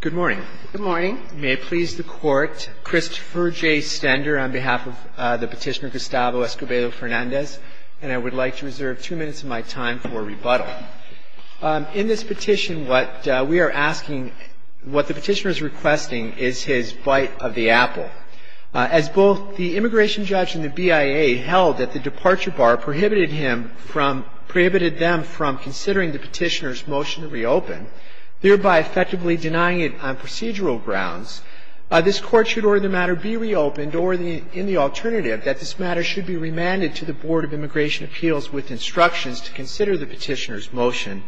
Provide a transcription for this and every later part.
Good morning. Good morning. May it please the Court, Christopher J. Stender on behalf of the petitioner Gustavo Escobedo-Fernandez, and I would like to reserve two minutes of my time for rebuttal. In this petition, what we are asking, what the petitioner is requesting is his bite of the apple. As both the immigration judge and the BIA held that the departure bar prohibited him from, prohibited them from considering the petitioner's motion to reopen, thereby effectively denying it on procedural grounds, this Court should order the matter be reopened or, in the alternative, that this matter should be remanded to the Board of Immigration Appeals with instructions to consider the petitioner's motion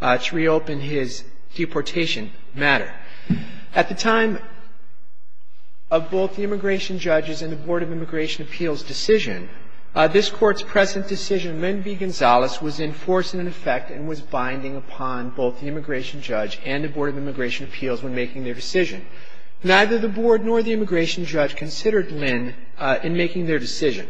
to reopen his deportation matter. At the time of both the immigration judge's and the Board of Immigration Appeals' decision, this Court's present decision, Linn v. Gonzalez, was in force and in effect and was binding upon both the immigration judge and the Board of Immigration Appeals when making their decision. Neither the Board nor the immigration judge considered Linn in making their decision.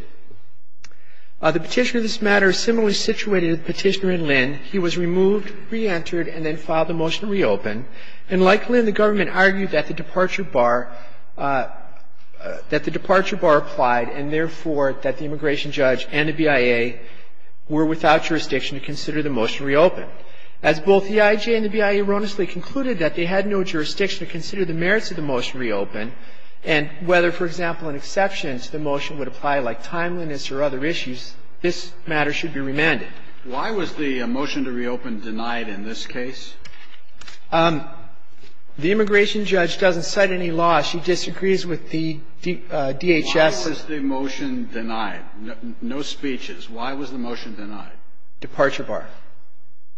The petitioner of this matter is similarly situated to the petitioner in Linn. He was removed, reentered, and then filed the motion to reopen. And like Linn, the government argued that the departure bar, that the departure bar applied and, therefore, that the immigration judge and the BIA were without jurisdiction to consider the motion to reopen. As both the EIJ and the BIA erroneously concluded that they had no jurisdiction to consider the merits of the motion to reopen, and whether, for example, in exceptions the motion would apply like timeliness or other issues, this matter should be remanded. Why was the motion to reopen denied in this case? The immigration judge doesn't cite any law. She disagrees with the DHS. Why was the motion denied? No speeches. Why was the motion denied? Departure bar.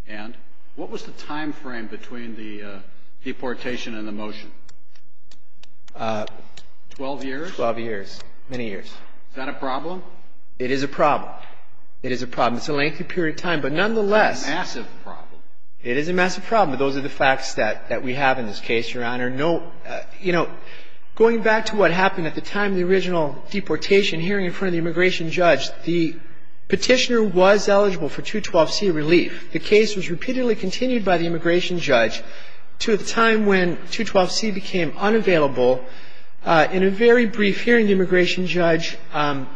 And what was the timeframe between the deportation and the motion? Twelve years? Twelve years. Many years. Is that a problem? It is a problem. It is a problem. It's a lengthy period of time. But nonetheless. That's a massive problem. It is a massive problem. But those are the facts that we have in this case, Your Honor. No, you know, going back to what happened at the time of the original deportation hearing in front of the immigration judge, the Petitioner was eligible for 212c relief. The case was repeatedly continued by the immigration judge to the time when 212c became unavailable. In a very brief hearing, the immigration judge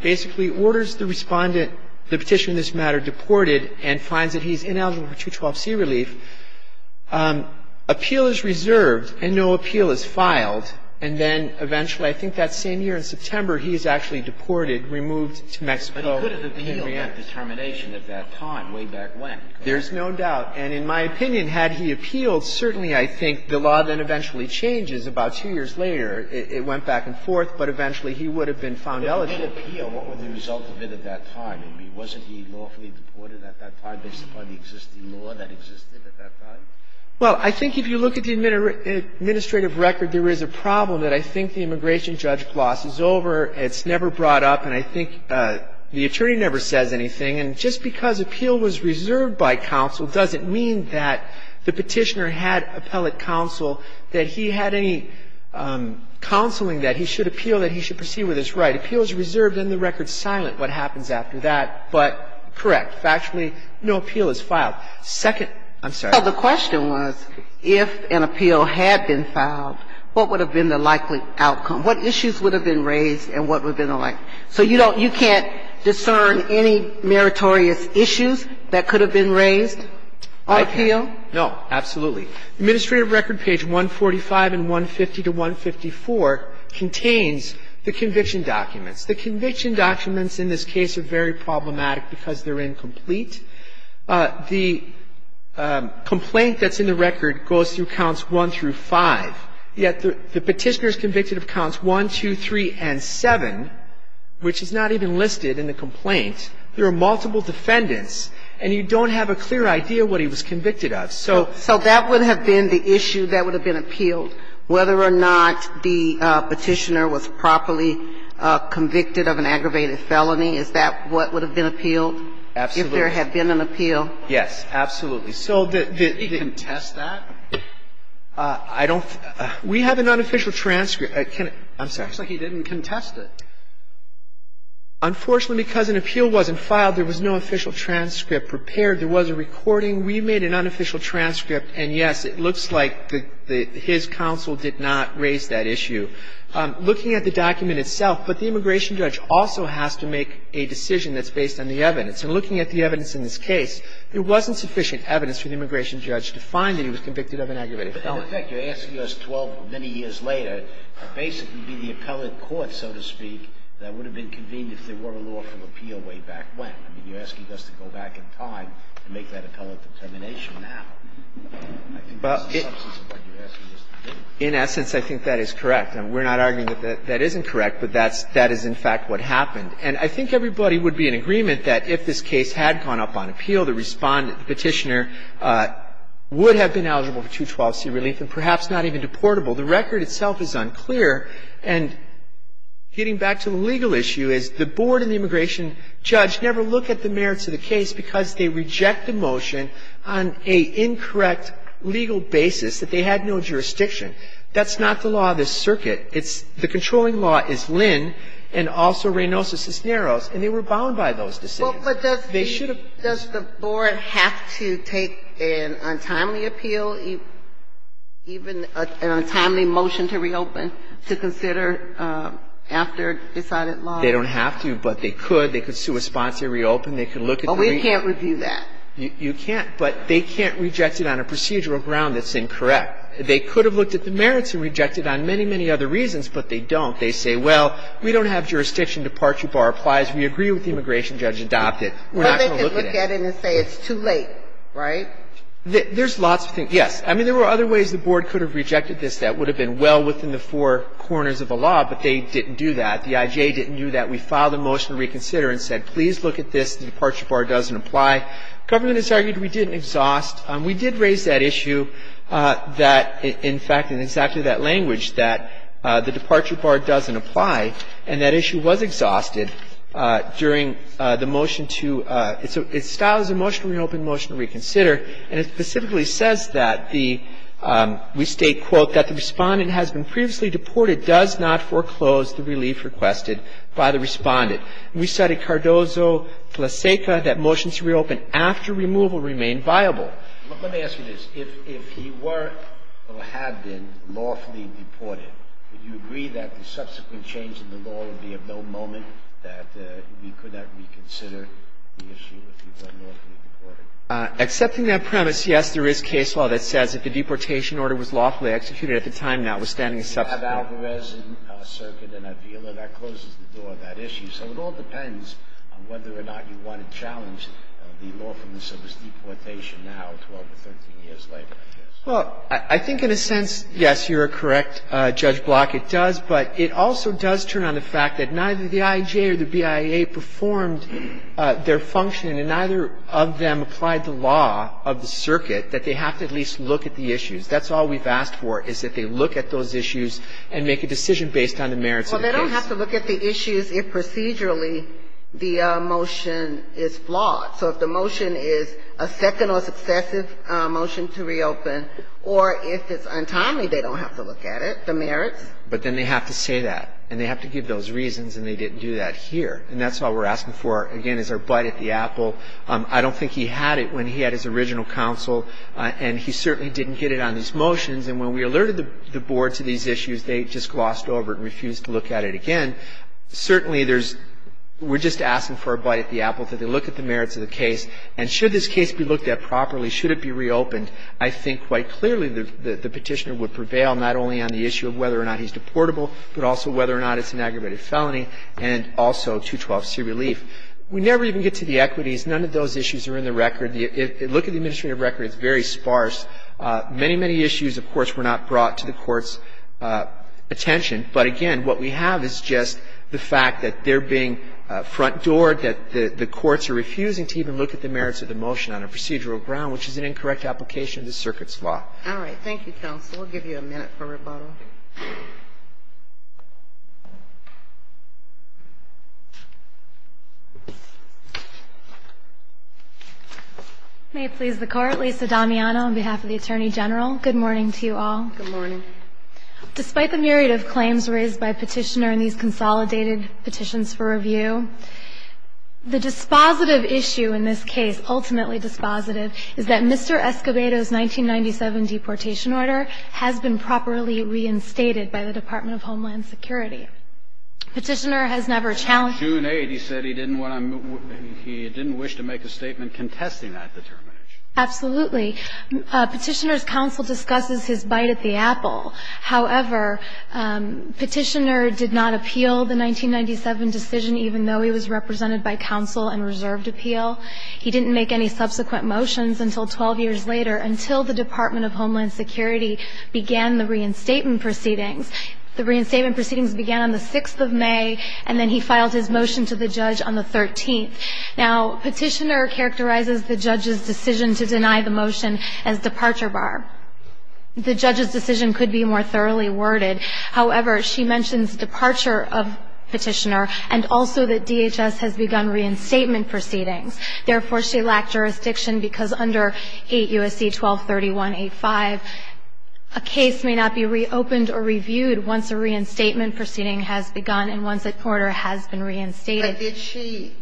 basically orders the Respondent the Petitioner in this matter deported and finds that he's ineligible for 212c relief. Appeal is reserved and no appeal is filed. And then eventually, I think that same year in September, he is actually deported, removed to Mexico. But he could have appealed that determination at that time way back when. There's no doubt. And in my opinion, had he appealed, certainly I think the law then eventually changes about two years later. It went back and forth, but eventually he would have been found eligible. But if he did appeal, what were the results of it at that time? I mean, wasn't he lawfully deported at that time based upon the existing law that existed at that time? Well, I think if you look at the administrative record, there is a problem that I think the immigration judge glosses over. It's never brought up. And I think the attorney never says anything. And just because appeal was reserved by counsel doesn't mean that the Petitioner had appellate counsel, that he had any counseling that he should appeal, that he should proceed with his right. Appeal is reserved and the record's silent what happens after that. But, correct, factually no appeal is filed. Second, I'm sorry. The question was if an appeal had been filed, what would have been the likely outcome? What issues would have been raised and what would have been the like? So you don't you can't discern any meritorious issues that could have been raised on appeal? I can't. No, absolutely. Administrative record page 145 and 150 to 154 contains the conviction documents. The conviction documents in this case are very problematic because they're incomplete. The complaint that's in the record goes through counts 1 through 5, yet the Petitioner is convicted of counts 1, 2, 3 and 7, which is not even listed in the complaint. There are multiple defendants and you don't have a clear idea what he was convicted of. So that would have been the issue that would have been appealed, whether or not the Petitioner was properly convicted of an aggravated felony. Is that what would have been appealed? If there had been an appeal. Yes, absolutely. So the Did he contest that? I don't we have an unofficial transcript. I'm sorry. It looks like he didn't contest it. Unfortunately, because an appeal wasn't filed, there was no official transcript prepared. There was a recording. We made an unofficial transcript and, yes, it looks like his counsel did not raise that issue. Looking at the document itself, but the immigration judge also has to make a decision that's based on the evidence. And looking at the evidence in this case, there wasn't sufficient evidence for the immigration judge to find that he was convicted of an aggravated felony. But in effect, you're asking us 12 many years later to basically be the appellate court, so to speak, that would have been convened if there were a lawful appeal way back when. I mean, you're asking us to go back in time and make that appellate determination now. I think that's the substance of what you're asking us to do. In essence, I think that is correct. We're not arguing that that isn't correct, but that is in fact what happened. And I think everybody would be in agreement that if this case had gone up on appeal, the Respondent, the Petitioner, would have been eligible for 212C relief and perhaps not even deportable. The record itself is unclear. And getting back to the legal issue is the board and the immigration judge never look at the merits of the case because they reject the motion on a incorrect legal basis that they had no jurisdiction. That's not the law of this circuit. The controlling law is Lynn and also Reynosa Cisneros, and they were bound by those They should have been. But does the board have to take an untimely appeal, even an untimely motion to reopen to consider after decided law? They don't have to, but they could. They could sue a sponsor, reopen. They could look at the merits. Oh, we can't review that. You can't. But they can't reject it on a procedural ground that's incorrect. They could have looked at the merits and rejected on many, many other reasons, but they don't. They say, well, we don't have jurisdiction. Departure bar applies. We agree with the immigration judge adopted. We're not going to look at it. Well, they could look at it and say it's too late, right? There's lots of things. Yes. I mean, there were other ways the board could have rejected this that would have been well within the four corners of the law, but they didn't do that. The I.J. didn't do that. We filed a motion to reconsider and said, please look at this. The departure bar doesn't apply. Government has argued we didn't exhaust. We did raise that issue that, in fact, in exactly that language, that the departure bar doesn't apply, and that issue was exhausted during the motion to ‑‑ it's styled as a motion to reopen, motion to reconsider, and it specifically says that the ‑‑ we state, quote, that the respondent has been previously deported does not foreclose the relief requested by the respondent. We cited Cardozo, Tlaseka, that motions to reopen after removal remain viable. Let me ask you this. If he were or had been lawfully deported, would you agree that the subsequent change in the law would be of no moment, that we could not reconsider the issue if he were lawfully deported? Accepting that premise, yes, there is case law that says if the deportation order was lawfully executed at the time, notwithstanding the subsequent ‑‑ If you have Alvarez in circuit and Avila, that closes the door on that issue. So it all depends on whether or not you want to challenge the lawfulness of his deportation now to over 13 years later. Well, I think in a sense, yes, you're correct, Judge Block. It does. But it also does turn on the fact that neither the IJA or the BIA performed their function and neither of them applied the law of the circuit that they have to at least look at the issues. That's all we've asked for is that they look at those issues and make a decision based on the merits of the case. Well, they don't have to look at the issues if procedurally the motion is flawed. So if the motion is a second or successive motion to reopen, or if it's untimely, they don't have to look at it, the merits. But then they have to say that, and they have to give those reasons, and they didn't do that here. And that's all we're asking for, again, is our bite at the apple. I don't think he had it when he had his original counsel, and he certainly didn't get it on these motions. And when we alerted the board to these issues, they just glossed over it and refused to look at it again. Certainly, there's we're just asking for a bite at the apple, that they look at the merits of the case. And should this case be looked at properly, should it be reopened, I think quite clearly the Petitioner would prevail not only on the issue of whether or not he's deportable, but also whether or not it's an aggravated felony, and also 212C relief. We never even get to the equities. None of those issues are in the record. Look at the administrative record. It's very sparse. Many, many issues, of course, were not brought to the Court's attention. But, again, what we have is just the fact that they're being front-doored, that the courts are refusing to even look at the merits of the motion on a procedural ground, which is an incorrect application of this Circuit's law. All right. Thank you, counsel. We'll give you a minute for rebuttal. May it please the Court. Lisa Damiano on behalf of the Attorney General. Good morning to you all. Good morning. Despite the myriad of claims raised by Petitioner in these consolidated petitions for review, the dispositive issue in this case, ultimately dispositive, is that Mr. Escobedo's 1997 deportation order has been properly reinstated by the Department of Homeland Security. Petitioner has never challenged that. He said he didn't want to make a statement contesting that determination. Absolutely. Petitioner's counsel discusses his bite at the apple. However, Petitioner did not appeal the 1997 decision, even though he was represented by counsel and reserved appeal. He didn't make any subsequent motions until 12 years later, until the Department of Homeland Security began the reinstatement proceedings. The reinstatement proceedings began on the 6th of May, and then he filed his motion to the judge on the 13th. Now, Petitioner characterizes the judge's decision to deny the motion as departure bar. The judge's decision could be more thoroughly worded. However, she mentions departure of Petitioner, and also that DHS has begun the reinstatement proceedings. Therefore, she lacked jurisdiction because under 8 U.S.C. 1231-85, a case may not be reopened or reviewed once a reinstatement proceeding has begun and once that order has been reinstated. But did she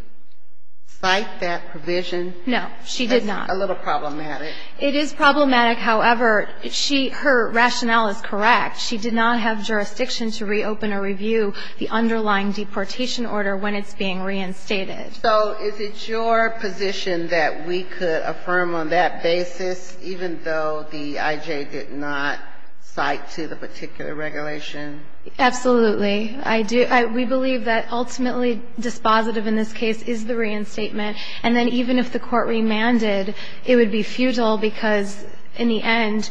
cite that provision? No, she did not. That's a little problematic. It is problematic. However, she her rationale is correct. She did not have jurisdiction to reopen or review the underlying deportation order when it's being reinstated. So is it your position that we could affirm on that basis, even though the I.J. did not cite to the particular regulation? Absolutely. I do. We believe that ultimately dispositive in this case is the reinstatement. And then even if the court remanded, it would be futile, because in the end,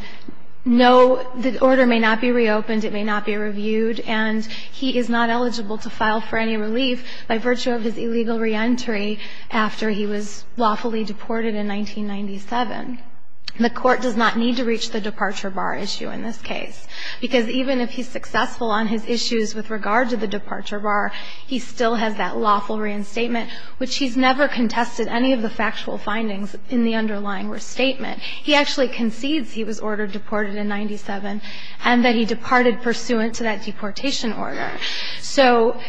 no, the order may not be reopened, it may not be reviewed, and he is not eligible to file for any relief by virtue of his illegal reentry after he was lawfully deported in 1997. The court does not need to reach the departure bar issue in this case, because even if he's successful on his issues with regard to the departure bar, he still has that lawful reinstatement, which he's never contested any of the factual findings in the underlying restatement. He actually concedes he was ordered deported in 97 and that he departed pursuant to that deportation order. So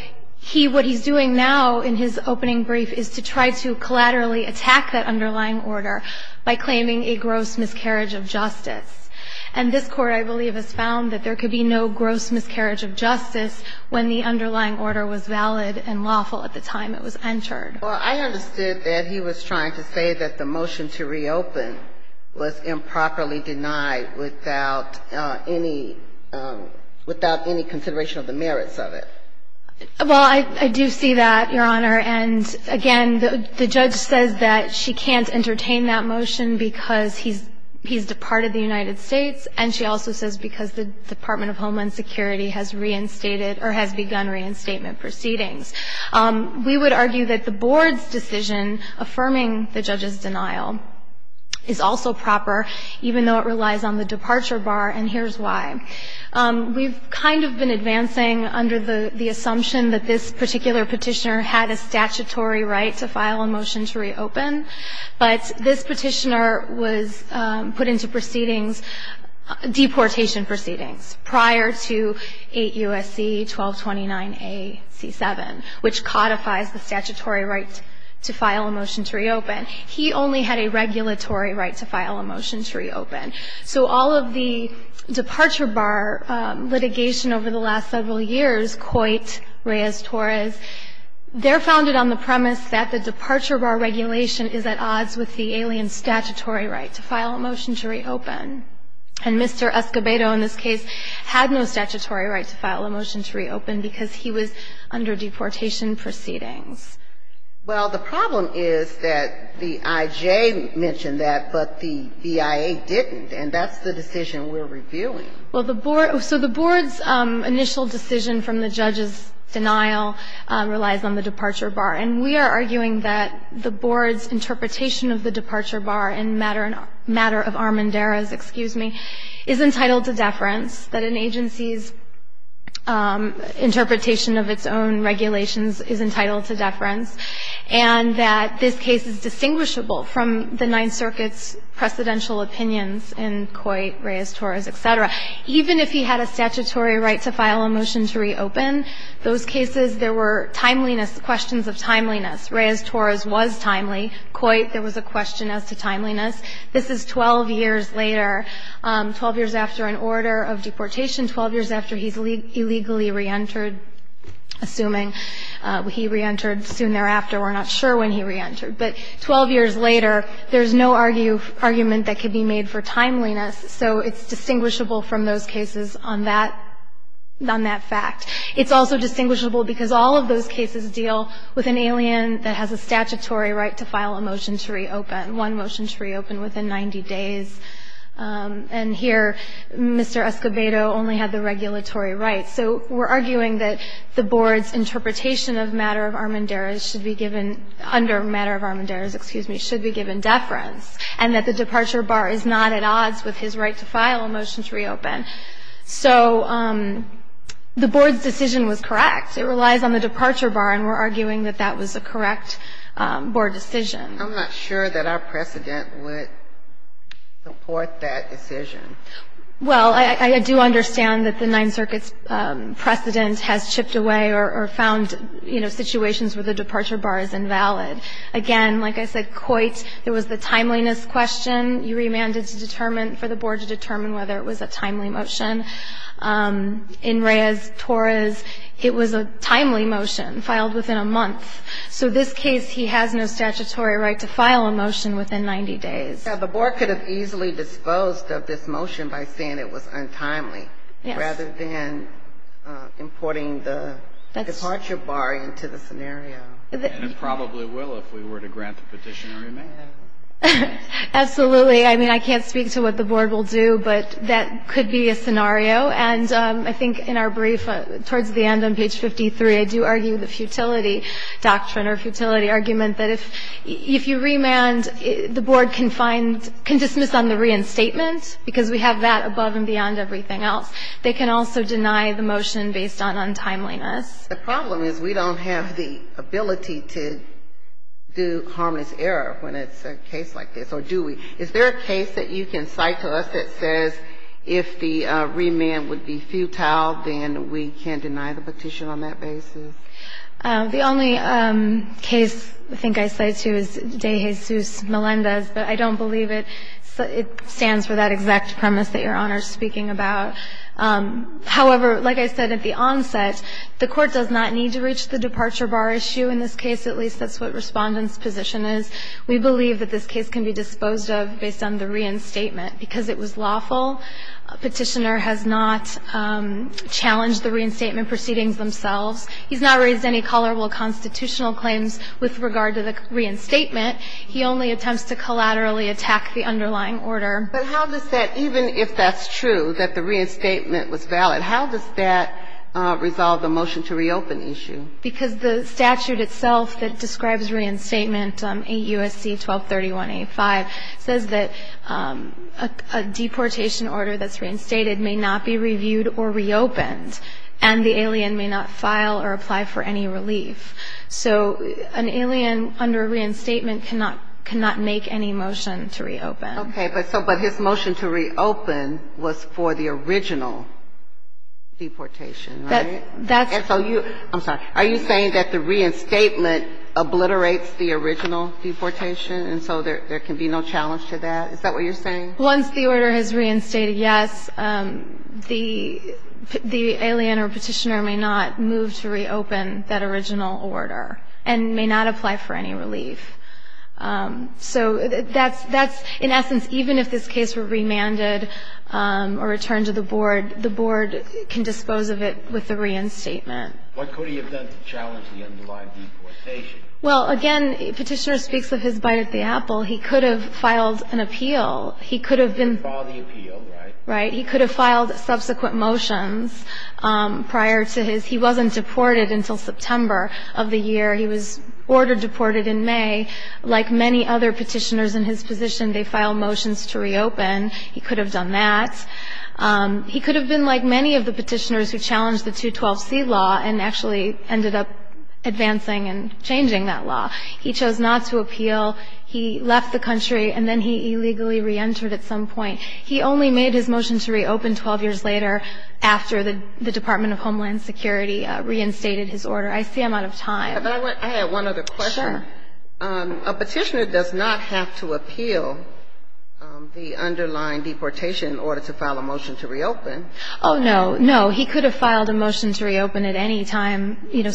what he's doing now in his opening brief is to try to collaterally attack that underlying order by claiming a gross miscarriage of justice. And this Court, I believe, has found that there could be no gross miscarriage of justice when the underlying order was valid and lawful at the time it was entered. Well, I understood that he was trying to say that the motion to reopen was improperly without any consideration of the merits of it. Well, I do see that, Your Honor. And again, the judge says that she can't entertain that motion because he's departed the United States, and she also says because the Department of Homeland Security has reinstated or has begun reinstatement proceedings. We would argue that the board's decision affirming the judge's denial is also proper, even though it relies on the departure bar, and here's why. We've kind of been advancing under the assumption that this particular petitioner had a statutory right to file a motion to reopen, but this petitioner was put into proceedings, deportation proceedings, prior to 8 U.S.C. 1229 A.C. 7, which codifies the statutory right to file a motion to reopen. He only had a regulatory right to file a motion to reopen. So all of the departure bar litigation over the last several years, Coit, Reyes-Torres, they're founded on the premise that the departure bar regulation is at odds with the alien statutory right to file a motion to reopen. And Mr. Escobedo in this case had no statutory right to file a motion to reopen because he was under deportation proceedings. Well, the problem is that the I.J. mentioned that, but the BIA didn't, and that's the decision we're reviewing. Well, the board so the board's initial decision from the judge's denial relies on the departure bar, and we are arguing that the board's interpretation of the departure bar in matter of Armendariz, excuse me, is entitled to deference, that an agency's interpretation of its own regulations is entitled to deference, and that this case is distinguishable from the Ninth Circuit's precedential opinions in Coit, Reyes-Torres, etc. Even if he had a statutory right to file a motion to reopen, those cases, there were timeliness, questions of timeliness. Reyes-Torres was timely. Coit, there was a question as to timeliness. This is 12 years later, 12 years after an order of deportation, 12 years after he's illegally reentered, assuming he reentered soon thereafter. We're not sure when he reentered. But 12 years later, there's no argument that could be made for timeliness, so it's distinguishable from those cases on that fact. It's also distinguishable because all of those cases deal with an alien that has a statutory right to file a motion to reopen, one motion to reopen within 90 days. And here, Mr. Escobedo only had the regulatory right. So we're arguing that the board's interpretation of matter of armanduras should be given under matter of armanduras, excuse me, should be given deference, and that the departure bar is not at odds with his right to file a motion to reopen. So the board's decision was correct. It relies on the departure bar, and we're arguing that that was a correct board decision. I'm not sure that our precedent would support that decision. Well, I do understand that the Ninth Circuit's precedent has chipped away or found, you know, situations where the departure bar is invalid. Again, like I said, Coit, there was the timeliness question. You remanded for the board to determine whether it was a timely motion. In Reyes-Torres, it was a timely motion filed within a month. So in this case, he has no statutory right to file a motion within 90 days. The board could have easily disposed of this motion by saying it was untimely rather than importing the departure bar into the scenario. And it probably will if we were to grant the petitioner remand. Absolutely. I mean, I can't speak to what the board will do, but that could be a scenario. And I think in our brief, towards the end on page 53, I do argue the futility doctrine or futility argument that if you remand, the board can find, can dismiss on the reinstatement, because we have that above and beyond everything else. They can also deny the motion based on untimeliness. The problem is we don't have the ability to do harmless error when it's a case like this, or do we? Is there a case that you can cite to us that says if the remand would be futile, then we can deny the petition on that basis? The only case I think I cite to is De Jesus Melendez, but I don't believe it stands for that exact premise that Your Honor is speaking about. However, like I said at the onset, the Court does not need to reach the departure bar issue in this case. At least that's what Respondent's position is. We believe that this case can be disposed of based on the reinstatement because it was lawful. Petitioner has not challenged the reinstatement proceedings themselves. He's not raised any tolerable constitutional claims with regard to the reinstatement. He only attempts to collaterally attack the underlying order. But how does that, even if that's true, that the reinstatement was valid, how does that resolve the motion to reopen issue? Because the statute itself that describes reinstatement, 8 U.S.C. 1231-85, says that a deportation order that's reinstated may not be reviewed or reopened, and the alien may not file or apply for any relief. So an alien under reinstatement cannot make any motion to reopen. Okay, but his motion to reopen was for the original deportation, right? I'm sorry. Are you saying that the reinstatement obliterates the original deportation and so there can be no challenge to that? Is that what you're saying? Once the order has reinstated, yes, the alien or Petitioner may not move to reopen that original order and may not apply for any relief. So that's, in essence, even if this case were remanded or returned to the board, the board can dispose of it with the reinstatement. What could he have done to challenge the underlying deportation? Well, again, Petitioner speaks of his bite at the apple. He could have filed an appeal. He could have been ---- He could have filed the appeal, right? Right. He could have filed subsequent motions prior to his. He wasn't deported until September of the year. He was ordered deported in May. Like many other Petitioners in his position, they filed motions to reopen. He could have done that. He could have been like many of the Petitioners who challenged the 212C law and actually ended up advancing and changing that law. He chose not to appeal. He left the country and then he illegally reentered at some point. He only made his motion to reopen 12 years later after the Department of Homeland Security reinstated his order. I see I'm out of time. I have one other question. Sure. A Petitioner does not have to appeal the underlying deportation in order to file a motion to reopen. Oh, no. No. He could have filed a motion to reopen at any time, you know,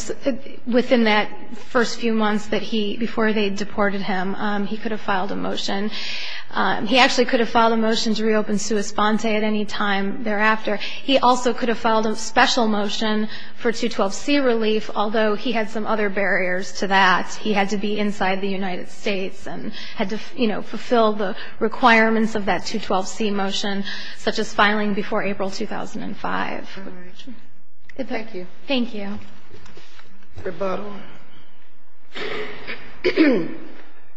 within that first few months that he ---- before they deported him. He could have filed a motion. He actually could have filed a motion to reopen Suis Ponte at any time thereafter. He also could have filed a special motion for 212C relief, although he had some other barriers to that. He had to be inside the United States and had to, you know, fulfill the requirements of that 212C motion, such as filing before April 2005. All right. Thank you. Thank you. Rebuttal.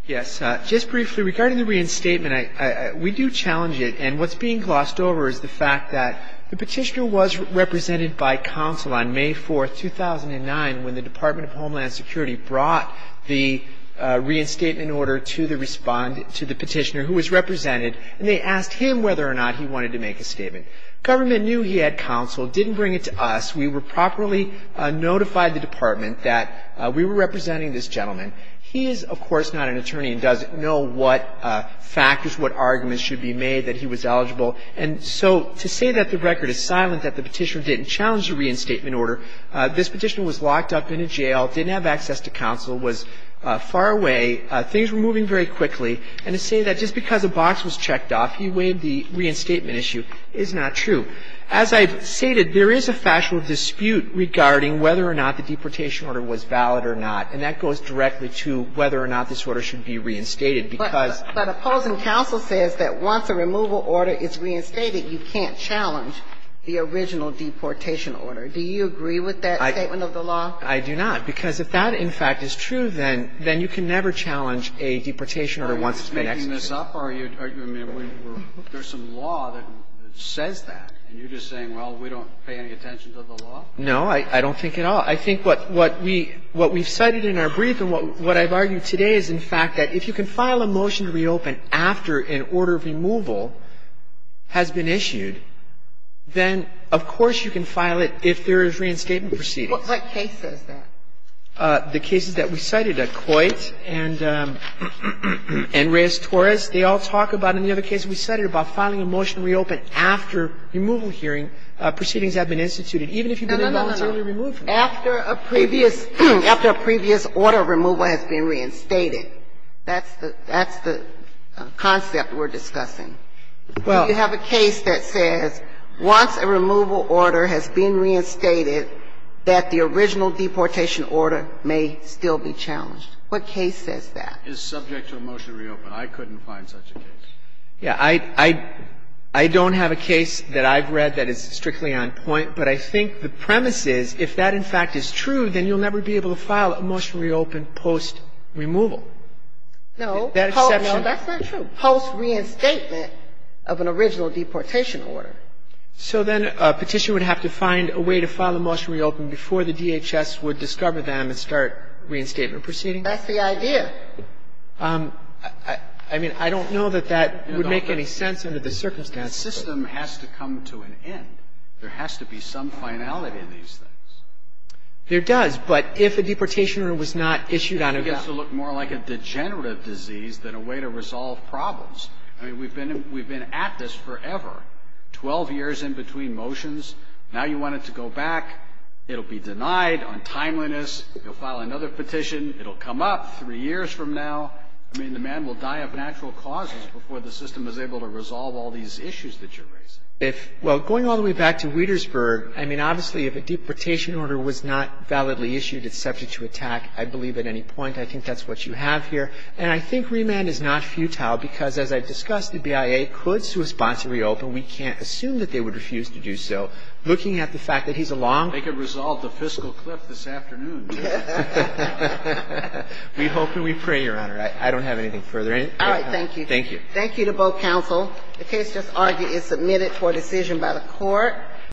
Yes. Just briefly, regarding the reinstatement, we do challenge it. And what's being glossed over is the fact that the Petitioner was represented by counsel on May 4th, 2009, when the Department of Homeland Security brought the reinstatement order to the Petitioner, who was represented, and they asked him whether or not he wanted to make a statement. Government knew he had counsel, didn't bring it to us. We were properly notified, the Department, that we were representing this gentleman. He is, of course, not an attorney and doesn't know what factors, what arguments should be made that he was eligible. And so to say that the record is silent, that the Petitioner didn't challenge the reinstatement order, this Petitioner was locked up in a jail, didn't have access to counsel, was far away, things were moving very quickly, and to say that just because a box was checked off, he waived the reinstatement issue, is not true. As I've stated, there is a factual dispute regarding whether or not the deportation order was valid or not. And that goes directly to whether or not this order should be reinstated, because But opposing counsel says that once a removal order is reinstated, you can't challenge the original deportation order. Do you agree with that statement of the law? I do not. Because if that, in fact, is true, then you can never challenge a deportation order once it's been executed. Are you making this up, or are you, I mean, there's some law that says that, and you're just saying, well, we don't pay any attention to the law? No, I don't think at all. I think what we've cited in our brief and what I've argued today is, in fact, that if you can file a motion to reopen after an order of removal has been issued, then, of course, you can file it if there is reinstatement proceedings. What case says that? The cases that we cited, Coit and Reyes-Torres, they all talk about it. In the other case we cited about filing a motion to reopen after removal hearing, proceedings have been instituted, even if you've been involuntarily removed from it. No, no, no. After a previous order of removal has been reinstated. That's the concept we're discussing. Do you have a case that says once a removal order has been reinstated, that the original deportation order may still be challenged? What case says that? It's subject to a motion to reopen. I couldn't find such a case. Yeah. I don't have a case that I've read that is strictly on point, but I think the premise is if that, in fact, is true, then you'll never be able to file a motion to reopen post-removal. No, that's not true. Post-reinstatement of an original deportation order. So then a Petitioner would have to find a way to file a motion to reopen before the DHS would discover them and start reinstatement proceedings? That's the idea. I mean, I don't know that that would make any sense under the circumstances. The system has to come to an end. There has to be some finality in these things. It gets to look more like a degenerative disease than a way to resolve problems. I mean, we've been at this forever, 12 years in between motions. Now you want it to go back. It will be denied on timeliness. You'll file another petition. It will come up three years from now. I mean, the man will die of natural causes before the system is able to resolve all these issues that you're raising. Well, going all the way back to Wietersburg, I mean, obviously, if a deportation order was not validly issued, it's subject to attack, I believe, at any point. I think that's what you have here. And I think remand is not futile because, as I've discussed, the BIA could suesponsibly open. We can't assume that they would refuse to do so. Looking at the fact that he's a long- They could resolve the fiscal cliff this afternoon. We hope and we pray, Your Honor. I don't have anything further. All right. Thank you. Thank you. Thank you to both counsel. The case just argued is submitted for decision by the Court.